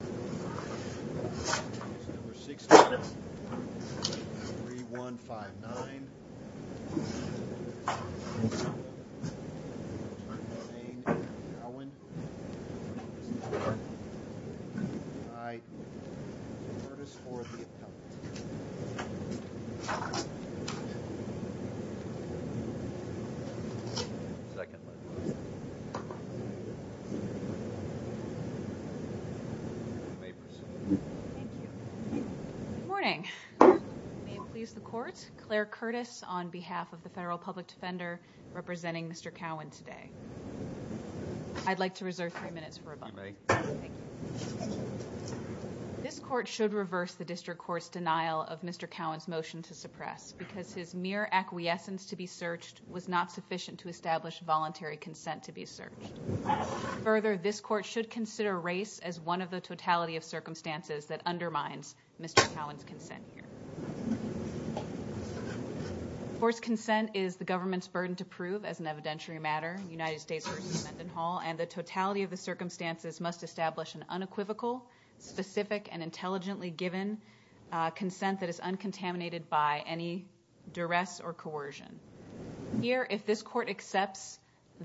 This is number 16, 3159, Tremaine Cowan. All right, Curtis for the appellate. Good morning. May it please the court, Claire Curtis on behalf of the Federal Public Defender representing Mr. Cowan today. I'd like to reserve three minutes for rebuttal. This court should reverse the district court's denial of Mr. Cowan's motion to suppress because his mere acquiescence to be searched was not sufficient to establish voluntary consent to be searched. Further, this court should consider race as one of the totality of circumstances that undermines Mr. Cowan's consent. Forced consent is the government's burden to prove as an evidentiary matter. The United States versus Mendenhall, and the totality of the circumstances must establish an unequivocal, specific and intelligently given consent that is uncontaminated by any duress or coercion. Here, if this court accepts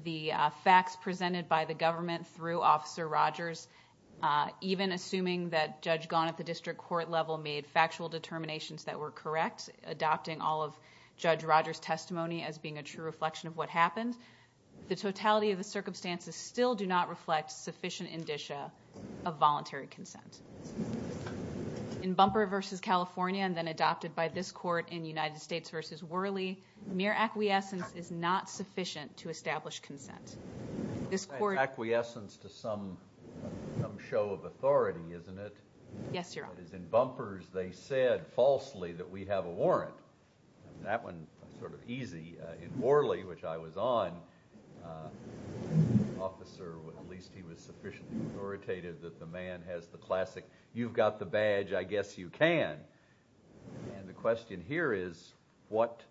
the facts presented by the government through Officer Rogers, even assuming that Judge Gaunt at the district court level made factual determinations that were correct, adopting all of Judge Rogers' testimony as being a true reflection of what happened, the totality of the circumstances still do not reflect sufficient indicia of voluntary consent. In Bumper versus California, and then adopted by this court in United States versus Worley, mere acquiescence is not sufficient to establish consent. This court... Acquiescence to some show of authority, isn't it? Yes, Your Honor. As in Bumpers, they said falsely that we have a warrant. That one was sort of easy. In Worley, which I was on, the officer, at least he was sufficiently authoritative that the man has the classic, you've got the badge, I guess you can. And the question here is, what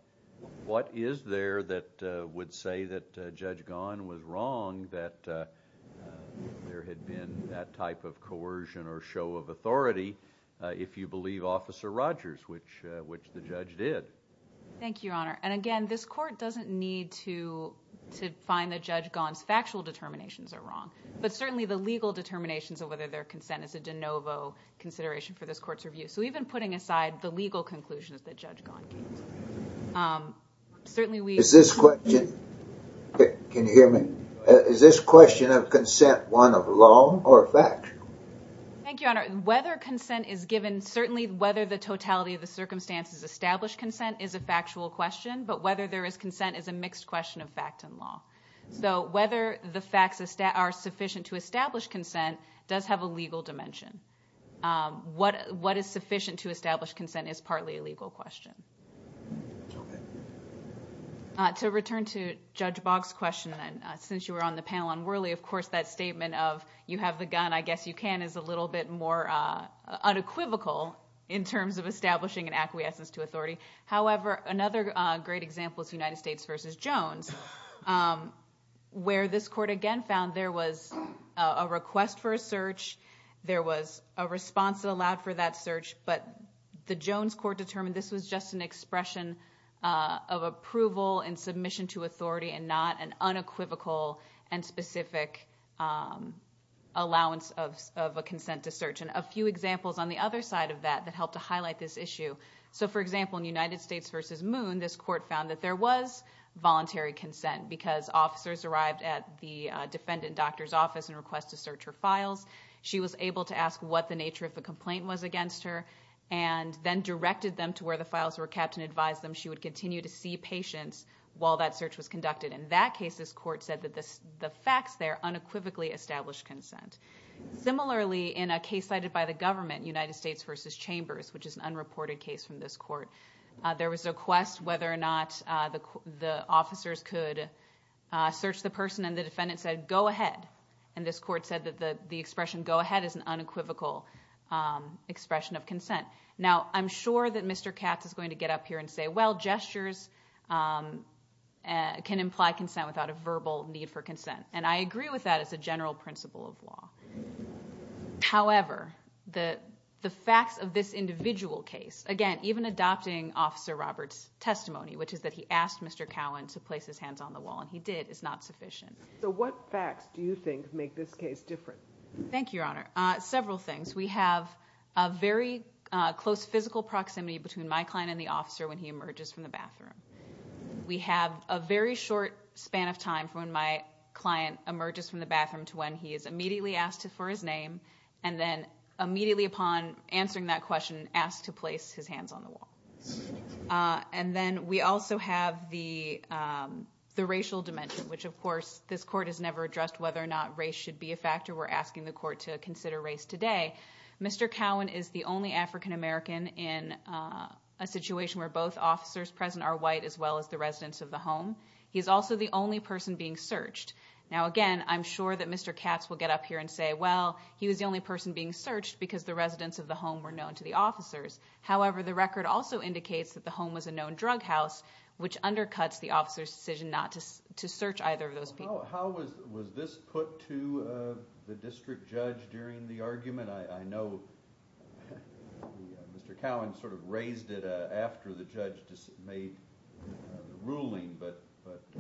is there that would say that Judge Gaunt was wrong, that there had been that type of coercion or show of authority if you believe Officer Rogers, which the judge did? Thank you, Your Honor. And again, this court doesn't need to find that Judge Gaunt's factual determinations are wrong, but certainly the legal determinations of whether there are consents is a de novo consideration for this court's review. So even putting aside the legal conclusions that Judge Gaunt came to, certainly we... Is this question... Can you hear me? Is this question of consent one of law or fact? Thank you, Your Honor. Whether consent is given, certainly whether the totality of the circumstances establish consent is a factual question, but whether there is consent is a mixed question of fact and law. So whether the facts are sufficient to establish consent does have a legal dimension. What is sufficient to establish consent is partly a legal question. Okay. To return to Judge Boggs' question, since you were on the panel on Worley, of course that statement of, you have the gun, I guess you can, is a little bit more unequivocal in terms of establishing an acquiescence to authority. However, another great example is United States v. Jones, where this court again found there was a request for a search, there was a response that allowed for that search, but the Jones court determined this was just an expression of approval and submission to authority and not an unequivocal and specific allowance of a consent to search. And a few examples on the other side of that that helped to highlight this issue. So, for example, in United States v. Moon, this court found that there was voluntary consent because officers arrived at the defendant doctor's office and requested to search her files. She was able to ask what the nature of the complaint was against her and then directed them to where the files were kept and advised them she would continue to see patients while that search was conducted. In that case, this court said that the facts there unequivocally established consent. Similarly, in a case cited by the government, United States v. Chambers, which is an unreported case from this court, there was a request whether or not the officers could search the person, and the defendant said, go ahead. And this court said that the expression go ahead is an unequivocal expression of consent. Now, I'm sure that Mr. Katz is going to get up here and say, well, gestures can imply consent without a verbal need for consent. And I agree with that as a general principle of law. However, the facts of this individual case, again, even adopting Officer Roberts' testimony, which is that he asked Mr. Cowan to place his hands on the wall, and he did, is not sufficient. So what facts do you think make this case different? Thank you, Your Honor. Several things. We have a very close physical proximity between my client and the officer when he emerges from the bathroom. We have a very short span of time from when my client emerges from the bathroom to when he is immediately asked for his name, and then immediately upon answering that question, asked to place his hands on the wall. And then we also have the racial dimension, which, of course, this court has never addressed whether or not race should be a factor. We're asking the court to consider race today. Mr. Cowan is the only African American in a situation where both officers present are white, as well as the residents of the home. He is also the only person being searched. Now, again, I'm sure that Mr. Katz will get up here and say, well, he was the only person being searched because the residents of the home were known to the officers. However, the record also indicates that the home was a known drug house, which undercuts the officer's decision not to search either of those people. How was this put to the district judge during the argument? I know Mr. Cowan sort of raised it after the judge made the ruling, but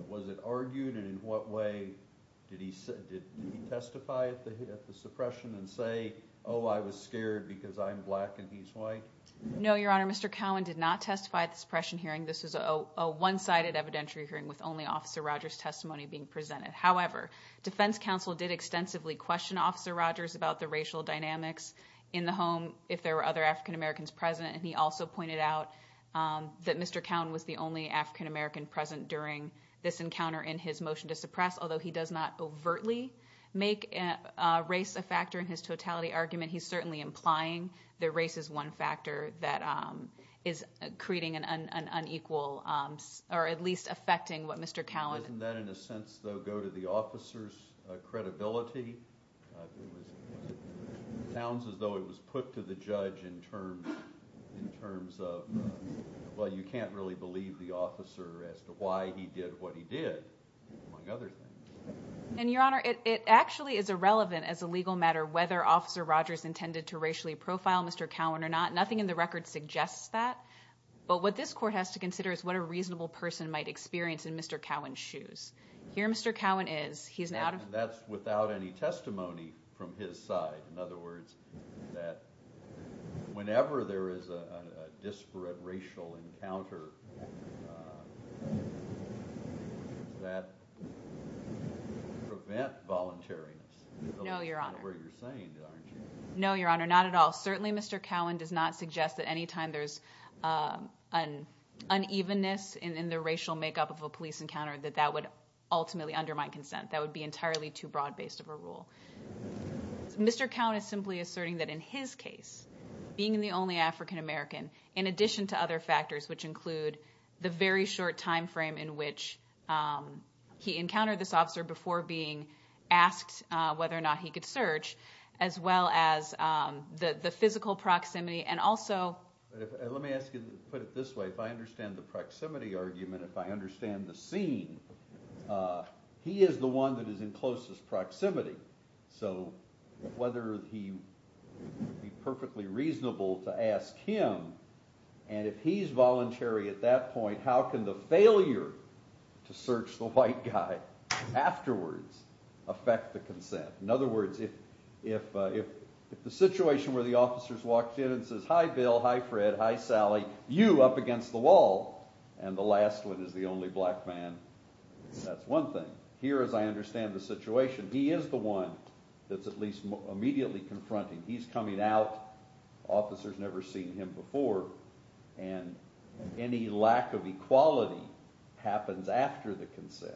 was it argued, and in what way did he testify at the suppression and say, oh, I was scared because I'm black and he's white? No, Your Honor, Mr. Cowan did not testify at the suppression hearing. This was a one-sided evidentiary hearing with only Officer Rogers' testimony being presented. However, defense counsel did extensively question Officer Rogers about the racial dynamics in the home if there were other African Americans present, and he also pointed out that Mr. Cowan was the only African American present during this encounter in his motion to suppress, although he does not overtly make race a factor in his totality. In the argument, he's certainly implying that race is one factor that is creating an unequal, or at least affecting what Mr. Cowan— Doesn't that in a sense, though, go to the officer's credibility? It sounds as though it was put to the judge in terms of, well, you can't really believe the officer as to why he did what he did, among other things. And, Your Honor, it actually is irrelevant as a legal matter whether Officer Rogers intended to racially profile Mr. Cowan or not. Nothing in the record suggests that. But what this court has to consider is what a reasonable person might experience in Mr. Cowan's shoes. Here Mr. Cowan is. He's an out— That's without any testimony from his side. In other words, that whenever there is a disparate racial encounter, that prevents volunteering. No, Your Honor. That's not what you're saying, aren't you? No, Your Honor, not at all. Certainly Mr. Cowan does not suggest that any time there's an unevenness in the racial makeup of a police encounter, that that would ultimately undermine consent. That would be entirely too broad-based of a rule. Mr. Cowan is simply asserting that in his case, being the only African American, in addition to other factors which include the very short time frame in which he encountered this officer before being asked whether or not he could search, as well as the physical proximity and also— Let me ask you to put it this way. If I understand the proximity argument, if I understand the scene, he is the one that is in closest proximity. So whether he would be perfectly reasonable to ask him, and if he's voluntary at that point, how can the failure to search the white guy afterwards affect the consent? In other words, if the situation where the officer's walked in and says, hi, Bill, hi, Fred, hi, Sally, you up against the wall, and the last one is the only black man, that's one thing. Here, as I understand the situation, he is the one that's at least immediately confronting. He's coming out. The officer's never seen him before. And any lack of equality happens after the consent.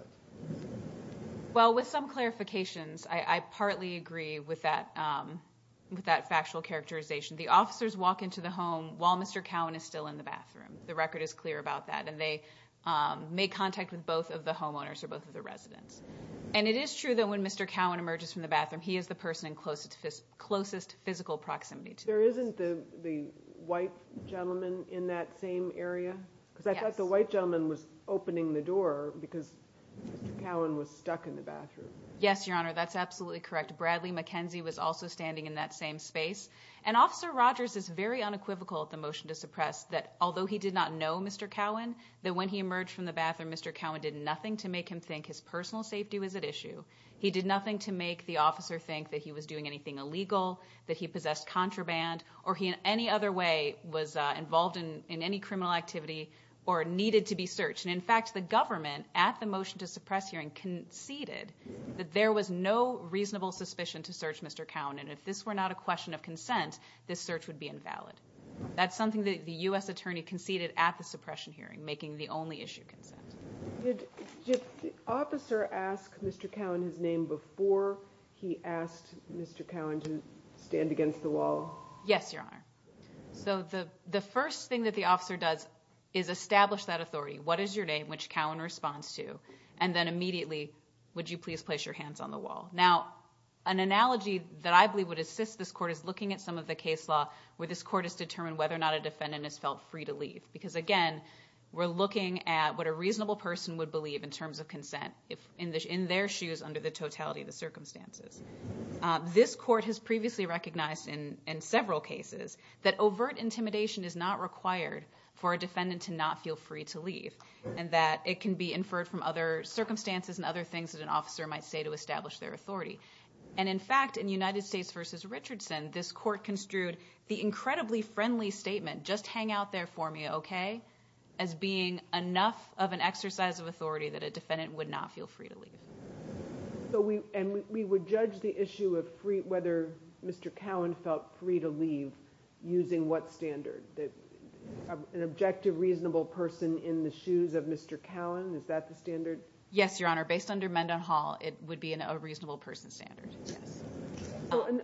Well, with some clarifications, I partly agree with that factual characterization. The officers walk into the home while Mr. Cowan is still in the bathroom. The record is clear about that. And they make contact with both of the homeowners or both of the residents. And it is true that when Mr. Cowan emerges from the bathroom, he is the person in closest physical proximity. There isn't the white gentleman in that same area? Yes. Because I thought the white gentleman was opening the door because Mr. Cowan was stuck in the bathroom. Yes, Your Honor, that's absolutely correct. Bradley McKenzie was also standing in that same space. And Officer Rogers is very unequivocal at the motion to suppress that although he did not know Mr. Cowan, that when he emerged from the bathroom, Mr. Cowan did nothing to make him think his personal safety was at issue. He did nothing to make the officer think that he was doing anything illegal, that he possessed contraband, or he in any other way was involved in any criminal activity or needed to be searched. And, in fact, the government, at the motion to suppress hearing, conceded that there was no reasonable suspicion to search Mr. Cowan. And if this were not a question of consent, this search would be invalid. That's something that the U.S. attorney conceded at the suppression hearing, making the only issue consent. Did the officer ask Mr. Cowan his name before he asked Mr. Cowan to stand against the wall? Yes, Your Honor. So the first thing that the officer does is establish that authority, what is your name, which Cowan responds to, and then immediately, would you please place your hands on the wall. Now, an analogy that I believe would assist this court is looking at some of the case law where this court has determined whether or not a defendant has felt free to leave. Because, again, we're looking at what a reasonable person would believe in terms of consent in their shoes under the totality of the circumstances. This court has previously recognized in several cases that overt intimidation is not required for a defendant to not feel free to leave and that it can be inferred from other circumstances and other things that an officer might say to establish their authority. And, in fact, in United States v. Richardson, this court construed the incredibly friendly statement, just hang out there for me, okay, as being enough of an exercise of authority that a defendant would not feel free to leave. And we would judge the issue of whether Mr. Cowan felt free to leave using what standard? An objective, reasonable person in the shoes of Mr. Cowan, is that the standard? Yes, Your Honor. Based under Mendenhall, it would be a reasonable person standard, yes.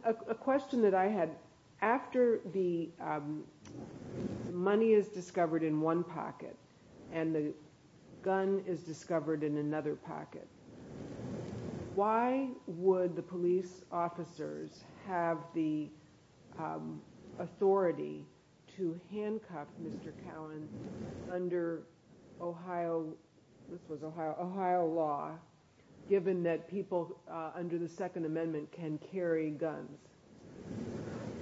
A question that I had, after the money is discovered in one pocket and the gun is discovered in another pocket, why would the police officers have the authority to handcuff Mr. Cowan under Ohio law, given that people under the Second Amendment can carry guns?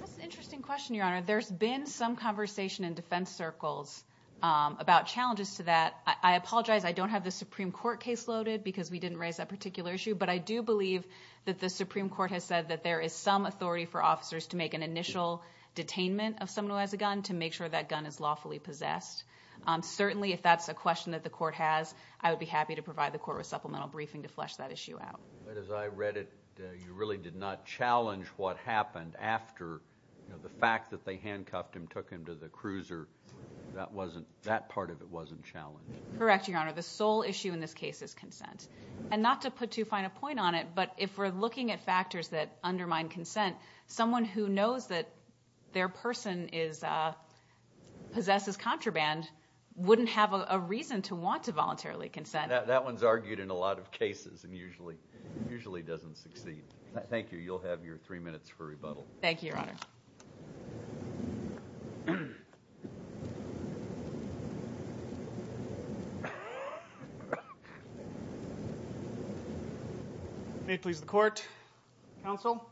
That's an interesting question, Your Honor. There's been some conversation in defense circles about challenges to that. I apologize, I don't have the Supreme Court case loaded because we didn't raise that particular issue, but I do believe that the Supreme Court has said that there is some authority for officers to make an initial detainment of someone who has a gun to make sure that gun is lawfully possessed. Certainly, if that's a question that the court has, I would be happy to provide the court with supplemental briefing to flesh that issue out. But as I read it, you really did not challenge what happened after the fact that they handcuffed him, took him to the cruiser. That part of it wasn't challenged. Correct, Your Honor. The sole issue in this case is consent. And not to put too fine a point on it, but if we're looking at factors that undermine consent, someone who knows that their person possesses contraband wouldn't have a reason to want to voluntarily consent. That one's argued in a lot of cases and usually doesn't succeed. Thank you. You'll have your three minutes for rebuttal. Thank you, Your Honor. May it please the Court. Counsel,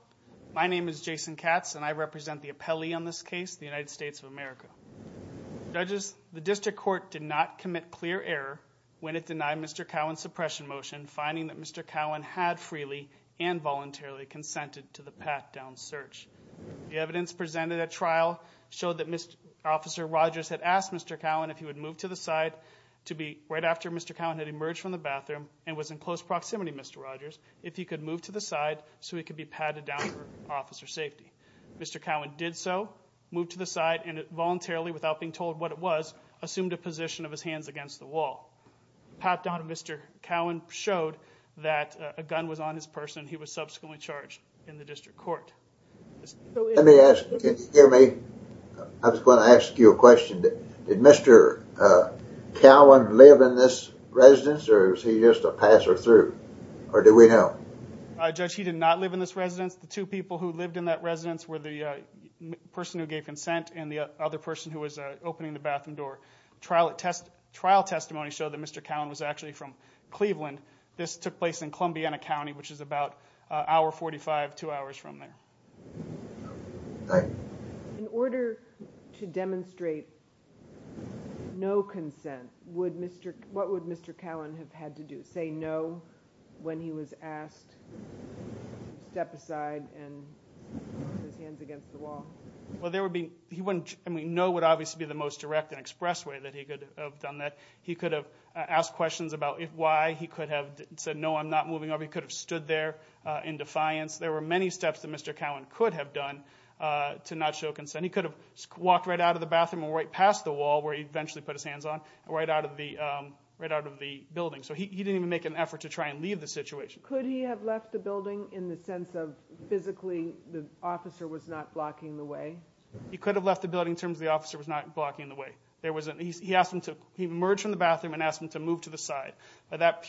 my name is Jason Katz and I represent the appellee on this case, the United States of America. Judges, the district court did not commit clear error when it denied Mr. Cowan's suppression motion, finding that Mr. Cowan had freely and voluntarily consented to the pat-down search. The evidence presented at trial showed that Officer Rogers had asked Mr. Cowan if he would move to the side right after Mr. Cowan had emerged from the bathroom and was in close proximity to Mr. Rogers, if he could move to the side so he could be patted down for officer safety. Mr. Cowan did so, moved to the side, and voluntarily, without being told what it was, assumed a position of his hands against the wall. Pat-down of Mr. Cowan showed that a gun was on his person. He was subsequently charged in the district court. Let me ask, can you hear me? I was going to ask you a question. Did Mr. Cowan live in this residence or was he just a passer-through? Or do we know? Judge, he did not live in this residence. The two people who lived in that residence were the person who gave consent and the other person who was opening the bathroom door. Trial testimony showed that Mr. Cowan was actually from Cleveland. This took place in Columbiana County, which is about an hour 45, two hours from there. In order to demonstrate no consent, what would Mr. Cowan have had to do? Would he have had to say no when he was asked to step aside and put his hands against the wall? No would obviously be the most direct and express way that he could have done that. He could have asked questions about why. He could have said, no, I'm not moving over. He could have stood there in defiance. There were many steps that Mr. Cowan could have done to not show consent. He could have walked right out of the bathroom or right past the wall where he eventually put his hands on, right out of the building. He didn't even make an effort to try and leave the situation. Could he have left the building in the sense of physically the officer was not blocking the way? He could have left the building in terms of the officer was not blocking the way. He emerged from the bathroom and asked him to move to the side. By that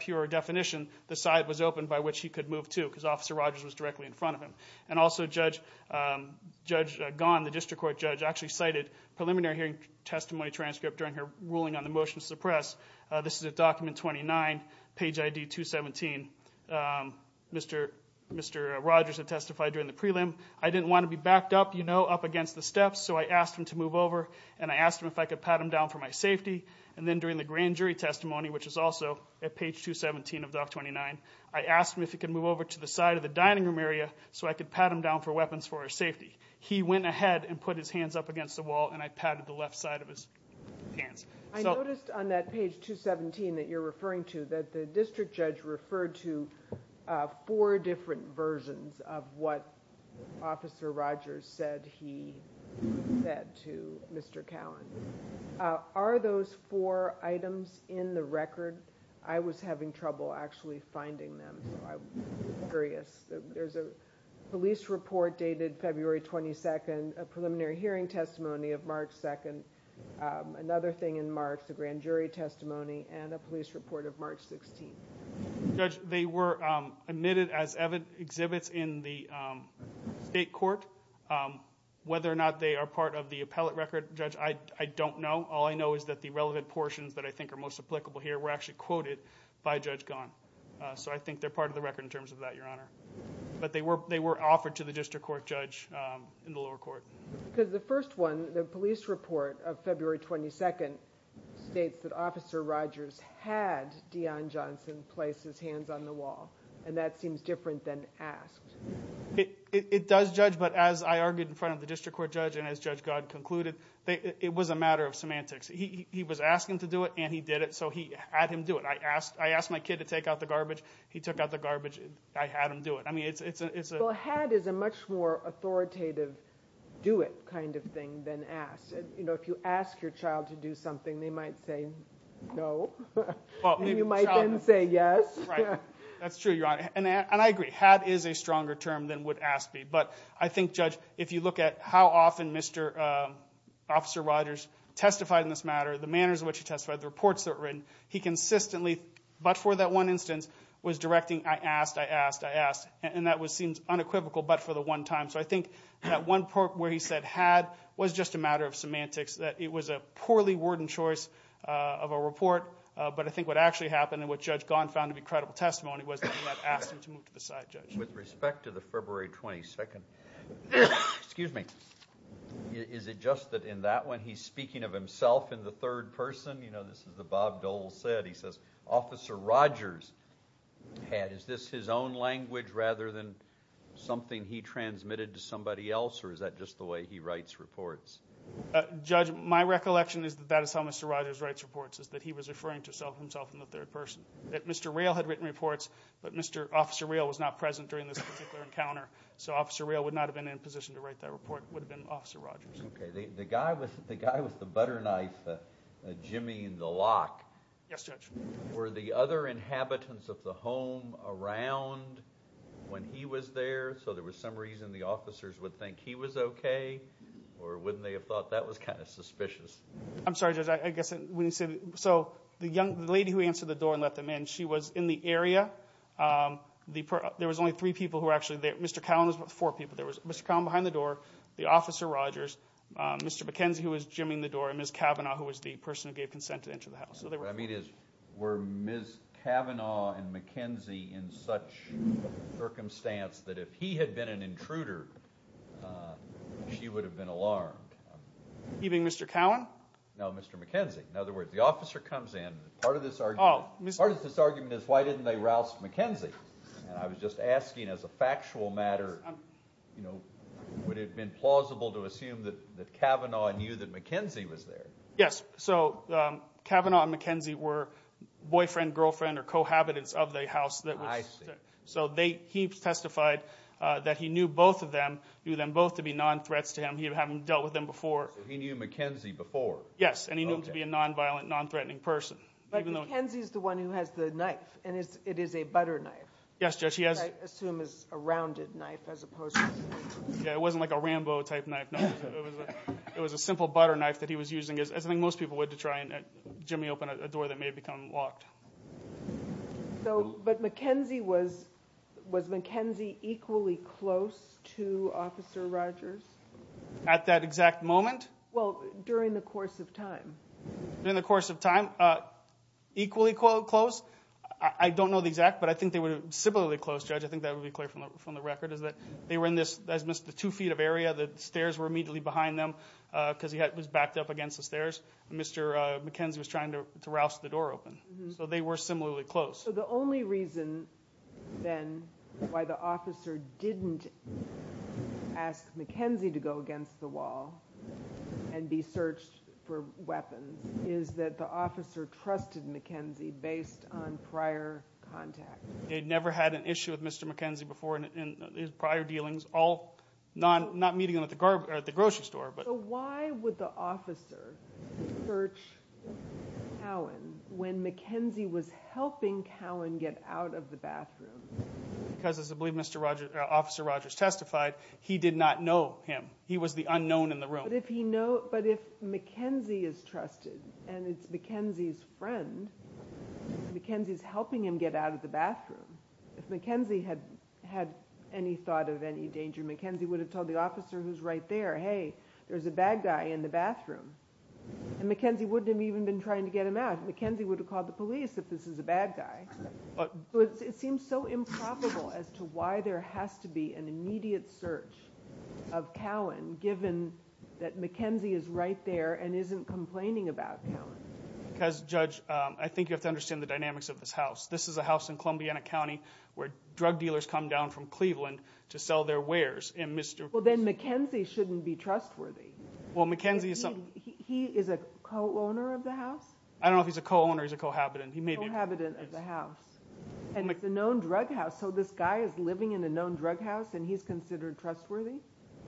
pure definition, the side was open by which he could move to because Officer Rogers was directly in front of him. And also Judge Gahn, the district court judge, actually cited preliminary hearing testimony transcript during her ruling on the motion to suppress. This is at document 29, page ID 217. Mr. Rogers had testified during the prelim. I didn't want to be backed up, you know, up against the steps, so I asked him to move over and I asked him if I could pat him down for my safety. And then during the grand jury testimony, which is also at page 217 of doc 29, I asked him if he could move over to the side of the dining room area so I could pat him down for weapons for our safety. He went ahead and put his hands up against the wall and I patted the left side of his hands. I noticed on that page 217 that you're referring to that the district judge referred to four different versions of what Officer Rogers said he said to Mr. Callan. Are those four items in the record? I was having trouble actually finding them, so I'm curious. There's a police report dated February 22nd, a preliminary hearing testimony of March 2nd, another thing in March, the grand jury testimony, and a police report of March 16th. Judge, they were admitted as exhibits in the state court. Whether or not they are part of the appellate record, Judge, I don't know. All I know is that the relevant portions that I think are most applicable here were actually quoted by Judge Gahn. So I think they're part of the record in terms of that, Your Honor. But they were offered to the district court judge in the lower court. The first one, the police report of February 22nd, states that Officer Rogers had Dion Johnson place his hands on the wall, and that seems different than asked. It does, Judge, but as I argued in front of the district court judge and as Judge Gahn concluded, it was a matter of semantics. He was asking to do it and he did it, so I had him do it. I asked my kid to take out the garbage. He took out the garbage. I had him do it. Well, had is a much more authoritative do it kind of thing than asked. If you ask your child to do something, they might say no, and you might then say yes. That's true, Your Honor, and I agree. Had is a stronger term than would ask be, but I think, Judge, if you look at how often Officer Rogers testified in this matter, the manners in which he testified, the reports that were written, he consistently, but for that one instance, was directing, I asked, I asked, I asked, and that seemed unequivocal but for the one time. So I think that one part where he said had was just a matter of semantics, that it was a poorly worded choice of a report, but I think what actually happened and what Judge Gahn found to be credible testimony was that he had asked him to move to the side, Judge. With respect to the February 22nd, is it just that in that one he's speaking of himself in the third person, you know, this is what Bob Dole said, he says, Officer Rogers had, is this his own language rather than something he transmitted to somebody else, or is that just the way he writes reports? Judge, my recollection is that that is how Mr. Rogers writes reports, is that he was referring to himself in the third person. That Mr. Rail had written reports, but Mr. Officer Rail was not present during this particular encounter, so Officer Rail would not have been in a position to write that report, it would have been Officer Rogers. Okay, the guy with the butter knife, Jimmy in the lock, were the other inhabitants of the home around when he was there, so there was some reason the officers would think he was okay, or wouldn't they have thought that was kind of suspicious? I'm sorry, Judge, I guess, so the lady who answered the door and let them in, she was in the area, there was only three people who were actually there, Mr. Cowan was with four people, there was Mr. Cowan behind the door, the Officer Rogers, Mr. McKenzie who was jimmying the door, and Ms. Cavanaugh who was the person who gave consent to enter the house. What I mean is, were Ms. Cavanaugh and McKenzie in such circumstance that if he had been an intruder, she would have been alarmed? You mean Mr. Cowan? No, Mr. McKenzie. In other words, the officer comes in, part of this argument is why didn't they rouse McKenzie? I was just asking as a factual matter, would it have been plausible to assume that Cavanaugh knew that McKenzie was there? Yes, so Cavanaugh and McKenzie were boyfriend, girlfriend, or cohabitants of the house, so he testified that he knew both of them, knew them both to be non-threats to him, he had dealt with them before. So he knew McKenzie before? Yes, and he knew him to be a non-violent, non-threatening person. But McKenzie is the one who has the knife, and it is a butter knife, which I assume is a rounded knife as opposed to… Yeah, it wasn't like a Rambo type knife, no. It was a simple butter knife that he was using, as I think most people would to try and jimmy open a door that may have become locked. But McKenzie, was McKenzie equally close to Officer Rogers? At that exact moment? Well, during the course of time. During the course of time, equally close? I don't know the exact, but I think they were similarly close, Judge. I think that would be clear from the record, is that they were in this two feet of area, the stairs were immediately behind them because he was backed up against the stairs, and Mr. McKenzie was trying to rouse the door open. So they were similarly close. So the only reason, then, why the officer didn't ask McKenzie to go against the wall and be searched for weapons is that the officer trusted McKenzie based on prior contact. They'd never had an issue with Mr. McKenzie before in his prior dealings, all not meeting him at the grocery store. So why would the officer search Cowan when McKenzie was helping Cowan get out of the bathroom? Because, as I believe Officer Rogers testified, he did not know him. He was the unknown in the room. But if McKenzie is trusted and it's McKenzie's friend, McKenzie's helping him get out of the bathroom. If McKenzie had any thought of any danger, McKenzie would have told the officer who's right there, hey, there's a bad guy in the bathroom, and McKenzie wouldn't have even been trying to get him out. McKenzie would have called the police if this is a bad guy. It seems so improbable as to why there has to be an immediate search of Cowan given that McKenzie is right there and isn't complaining about Cowan. Because, Judge, I think you have to understand the dynamics of this house. This is a house in Columbiana County where drug dealers come down from Cleveland to sell their wares. Well, then McKenzie shouldn't be trustworthy. He is a co-owner of the house? I don't know if he's a co-owner or he's a co-habitant. He's a co-habitant of the house, and it's a known drug house. So this guy is living in a known drug house and he's considered trustworthy?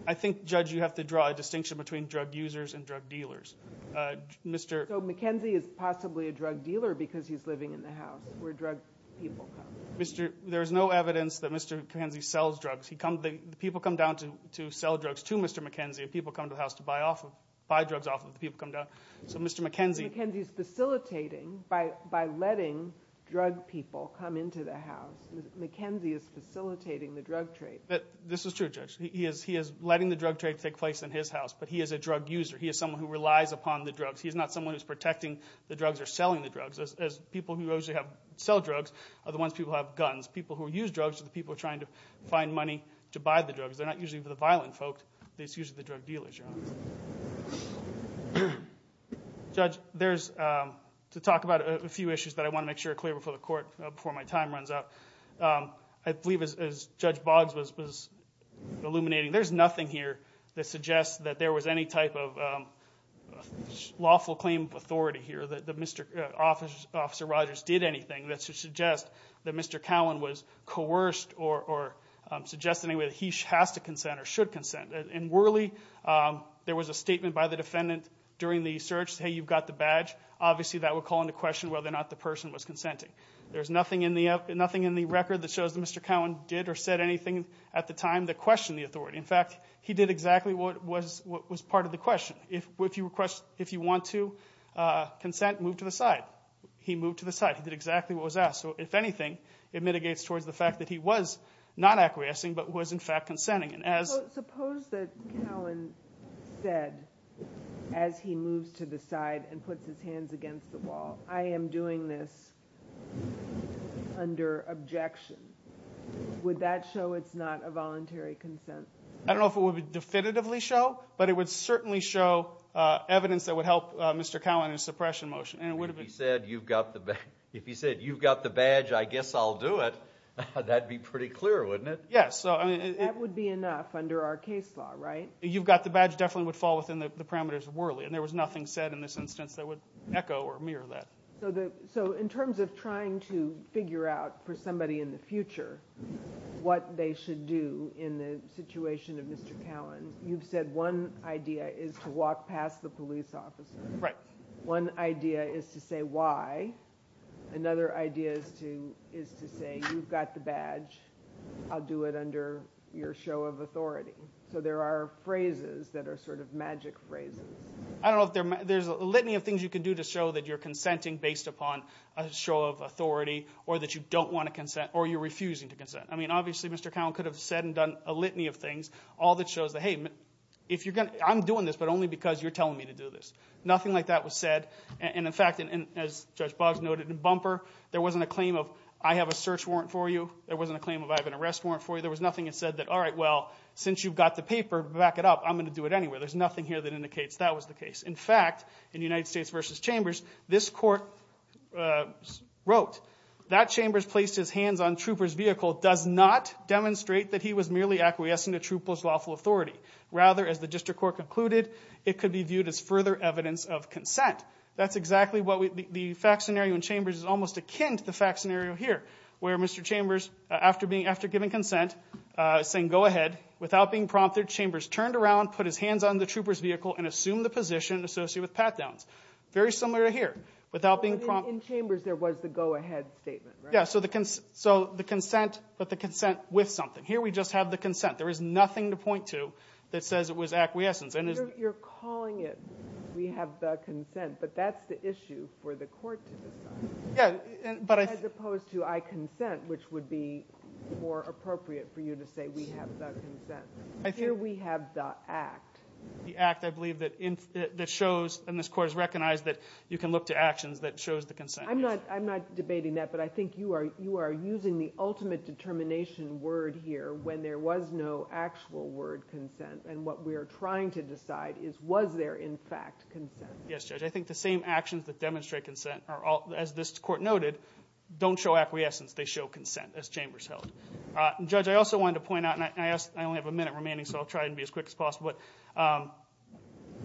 I think, Judge, you have to draw a distinction between drug users and drug dealers. So McKenzie is possibly a drug dealer because he's living in the house where drug people come. There is no evidence that Mr. McKenzie sells drugs. People come down to sell drugs to Mr. McKenzie, and people come to the house to buy drugs off of the people who come down. McKenzie is facilitating by letting drug people come into the house. McKenzie is facilitating the drug trade. This is true, Judge. He is letting the drug trade take place in his house, but he is a drug user. He is someone who relies upon the drugs. He is not someone who is protecting the drugs or selling the drugs. People who usually sell drugs are the ones who have guns. People who use drugs are the people trying to find money to buy the drugs. They're not usually the violent folk. They're usually the drug dealers. Judge, to talk about a few issues that I want to make sure are clear before the court, before my time runs out, I believe as Judge Boggs was illuminating, there's nothing here that suggests that there was any type of lawful claim of authority here, that Officer Rogers did anything that suggests that Mr. Cowan was coerced or suggests in any way that he has to consent or should consent. In Worley, there was a statement by the defendant during the search, hey, you've got the badge. Obviously, that would call into question whether or not the person was consenting. There's nothing in the record that shows that Mr. Cowan did or said anything at the time that questioned the authority. In fact, he did exactly what was part of the question. If you want to consent, move to the side. He moved to the side. He did exactly what was asked. If anything, it mitigates towards the fact that he was not acquiescing but was in fact consenting. Suppose that Cowan said as he moves to the side and puts his hands against the wall, I am doing this under objection. Would that show it's not a voluntary consent? I don't know if it would definitively show, but it would certainly show evidence that would help Mr. Cowan in his suppression motion. If he said, you've got the badge, I guess I'll do it, that would be pretty clear, wouldn't it? Yes. That would be enough under our case law, right? You've got the badge definitely would fall within the parameters of Worley. There was nothing said in this instance that would echo or mirror that. In terms of trying to figure out for somebody in the future what they should do in the situation of Mr. Cowan, you've said one idea is to walk past the police officer. Right. One idea is to say why. Another idea is to say, you've got the badge. I'll do it under your show of authority. So there are phrases that are sort of magic phrases. I don't know if there's a litany of things you can do to show that you're consenting based upon a show of authority or that you don't want to consent or you're refusing to consent. I mean obviously Mr. Cowan could have said and done a litany of things, all that shows that, hey, I'm doing this but only because you're telling me to do this. Nothing like that was said. And, in fact, as Judge Boggs noted in Bumper, there wasn't a claim of I have a search warrant for you. There wasn't a claim of I have an arrest warrant for you. There was nothing that said that, all right, well, since you've got the paper, back it up. I'm going to do it anyway. There's nothing here that indicates that was the case. In fact, in United States v. Chambers, this court wrote, that Chambers placed his hands on Trooper's vehicle does not demonstrate that he was merely acquiescing to Trooper's lawful authority. Rather, as the district court concluded, it could be viewed as further evidence of consent. That's exactly what the fact scenario in Chambers is almost akin to the fact scenario here, where Mr. Chambers, after giving consent, saying go ahead, without being prompted, Chambers turned around, put his hands on the Trooper's vehicle and assumed the position associated with pat-downs. Very similar here. In Chambers there was the go ahead statement, right? Yeah, so the consent, but the consent with something. Here we just have the consent. There is nothing to point to that says it was acquiescence. You're calling it we have the consent, but that's the issue for the court to decide. As opposed to I consent, which would be more appropriate for you to say we have the consent. Here we have the act. The act, I believe, that shows and this court has recognized that you can look to actions that shows the consent. I'm not debating that, but I think you are using the ultimate determination word here when there was no actual word consent, and what we are trying to decide is was there in fact consent. Yes, Judge. I think the same actions that demonstrate consent, as this court noted, don't show acquiescence. They show consent, as Chambers held. Judge, I also wanted to point out, and I only have a minute remaining, so I'll try to be as quick as possible.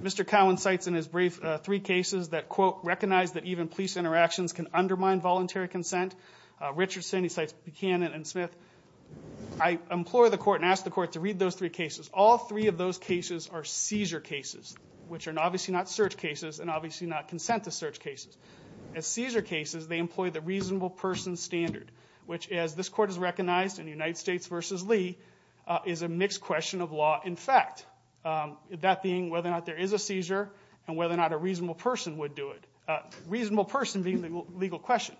Mr. Cowen cites in his brief three cases that, quote, recognize that even police interactions can undermine voluntary consent. Richardson, he cites Buchanan and Smith. I implore the court and ask the court to read those three cases. All three of those cases are seizure cases, which are obviously not search cases and obviously not consent to search cases. As seizure cases, they employ the reasonable person standard, which, as this court has recognized in United States v. Lee, is a mixed question of law and fact, that being whether or not there is a seizure and whether or not a reasonable person would do it. Reasonable person being the legal question.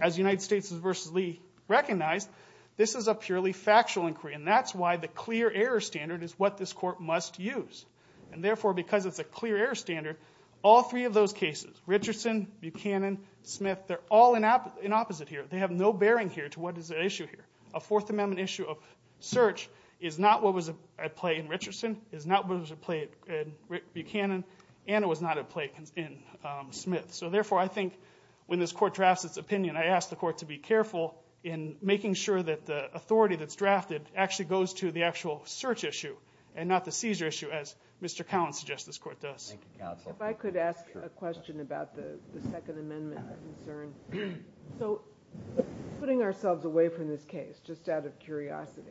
As United States v. Lee recognized, this is a purely factual inquiry, and that's why the clear error standard is what this court must use. And therefore, because it's a clear error standard, all three of those cases, Richardson, Buchanan, Smith, they're all in opposite here. They have no bearing here to what is at issue here. A Fourth Amendment issue of search is not what was at play in Richardson, is not what was at play in Buchanan, and it was not at play in Smith. So therefore, I think when this court drafts its opinion, I ask the court to be careful in making sure that the authority that's drafted actually goes to the actual search issue and not the seizure issue, as Mr. Cowen suggests this court does. Thank you, counsel. If I could ask a question about the Second Amendment concern. So putting ourselves away from this case, just out of curiosity,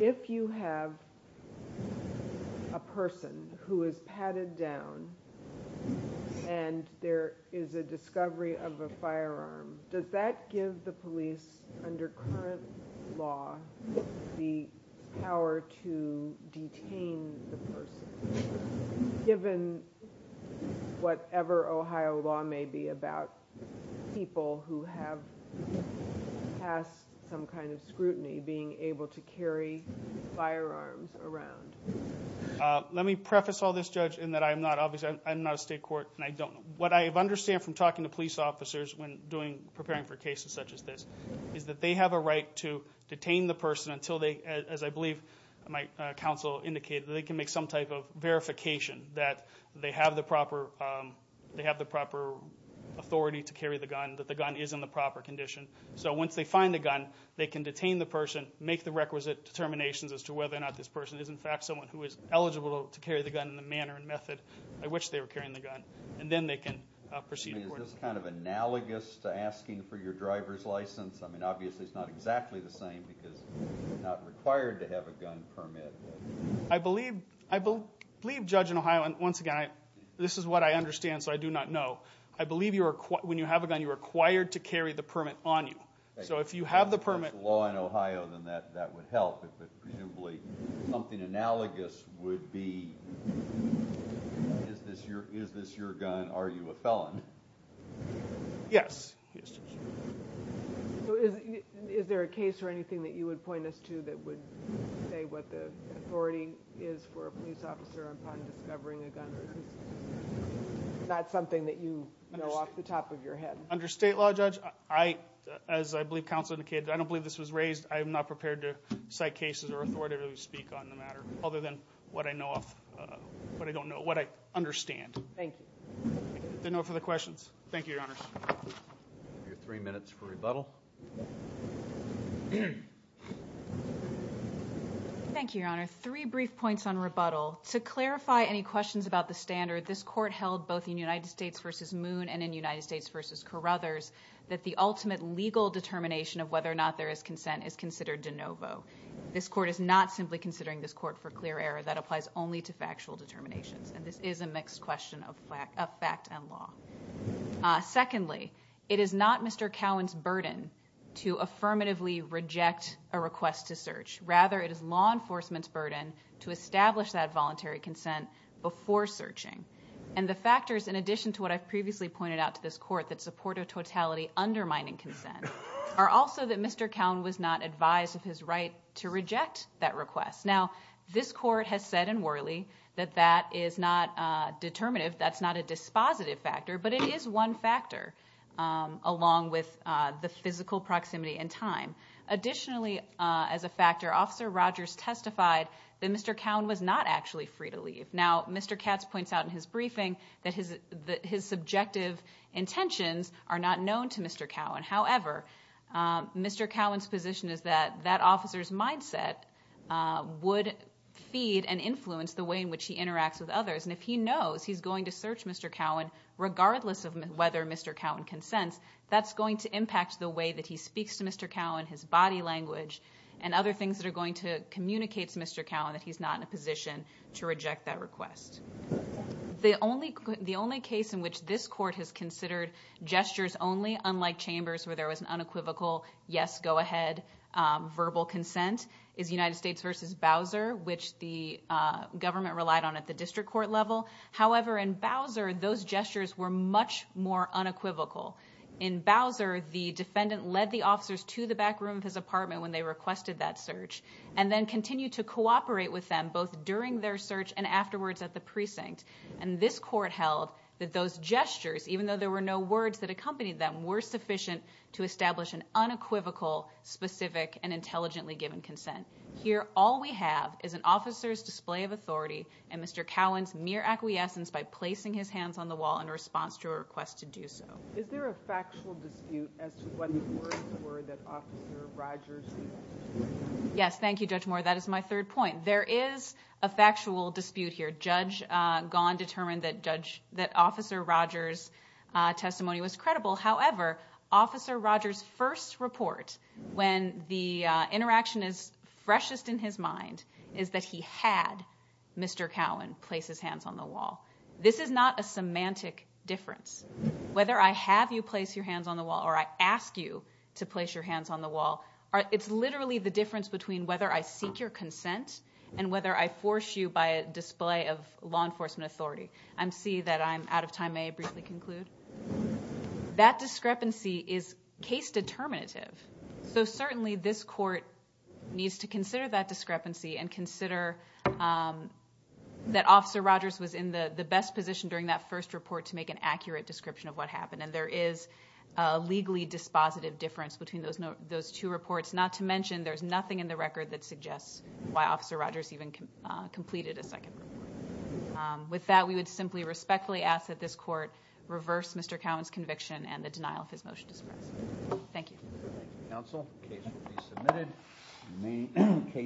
if you have a person who is padded down and there is a discovery of a firearm, does that give the police under current law the power to detain the person, given whatever Ohio law may be about people who have passed some kind of scrutiny being able to carry firearms around? Let me preface all this, Judge, in that I am not a state court and I don't know. What I understand from talking to police officers when preparing for cases such as this is that they have a right to detain the person until they, as I believe my counsel indicated, they can make some type of verification that they have the proper authority to carry the gun, that the gun is in the proper condition. So once they find the gun, they can detain the person, make the requisite determinations as to whether or not this person is in fact someone who is eligible to carry the gun in the manner and method by which they are carrying the gun, and then they can proceed accordingly. Is this kind of analogous to asking for your driver's license? I mean, obviously it's not exactly the same because you're not required to have a gun permit. I believe, Judge, in Ohio, and once again, this is what I understand so I do not know, I believe when you have a gun, you're required to carry the permit on you. So if you have the permit... If there's a law in Ohio, then that would help. Presumably something analogous would be, is this your gun, are you a felon? Yes. So is there a case or anything that you would point us to that would say what the authority is for a police officer upon discovering a gun? Not something that you know off the top of your head. Under state law, Judge, as I believe counsel indicated, I don't believe this was raised, I am not prepared to cite cases or authority to speak on the matter other than what I know of, what I don't know, what I understand. Thank you. Is there no further questions? Thank you, Your Honors. You have three minutes for rebuttal. Thank you, Your Honor. Three brief points on rebuttal. To clarify any questions about the standard, this court held both in United States v. Moon and in United States v. Carruthers that the ultimate legal determination of whether or not there is consent is considered de novo. This court is not simply considering this court for clear error. That applies only to factual determinations, and this is a mixed question of fact and law. Secondly, it is not Mr. Cowen's burden to affirmatively reject a request to search. Rather, it is law enforcement's burden to establish that voluntary consent before searching. And the factors, in addition to what I've previously pointed out to this court, that support a totality undermining consent, are also that Mr. Cowen was not advised of his right to reject that request. Now, this court has said in Worley that that is not determinative, that's not a dispositive factor, but it is one factor along with the physical proximity and time. Additionally, as a factor, Officer Rogers testified that Mr. Cowen was not actually free to leave. Now, Mr. Katz points out in his briefing that his subjective intentions are not known to Mr. Cowen. However, Mr. Cowen's position is that that officer's mindset would feed and influence the way in which he interacts with others. And if he knows he's going to search Mr. Cowen, regardless of whether Mr. Cowen consents, that's going to impact the way that he speaks to Mr. Cowen, his body language, and other things that are going to communicate to Mr. Cowen that he's not in a position to reject that request. The only case in which this court has considered gestures only, unlike chambers where there was an unequivocal yes, go ahead, verbal consent, is United States v. Bowser, which the government relied on at the district court level. However, in Bowser, those gestures were much more unequivocal. In Bowser, the defendant led the officers to the back room of his apartment when they requested that search, and then continued to cooperate with them both during their search and afterwards at the precinct. And this court held that those gestures, even though there were no words that accompanied them, were sufficient to establish an unequivocal, specific, and intelligently given consent. Here, all we have is an officer's display of authority and Mr. Cowen's mere acquiescence by placing his hands on the wall in response to a request to do so. Is there a factual dispute as to what words were that Officer Rogers used? Yes, thank you, Judge Moore, that is my third point. There is a factual dispute here. Judge Gaughan determined that Officer Rogers' testimony was credible. However, Officer Rogers' first report, when the interaction is freshest in his mind, is that he had Mr. Cowen place his hands on the wall. This is not a semantic difference. Whether I have you place your hands on the wall or I ask you to place your hands on the wall, it's literally the difference between whether I seek your consent and whether I force you by a display of law enforcement authority. I see that I'm out of time. May I briefly conclude? That discrepancy is case determinative. Certainly, this court needs to consider that discrepancy and consider that Officer Rogers was in the best position during that first report to make an accurate description of what happened. There is a legally dispositive difference between those two reports, not to mention there's nothing in the record that suggests why Officer Rogers even completed a second report. With that, we would simply respectfully ask that this court reverse Mr. Cowen's conviction and the denial of his motion to suppress. Thank you.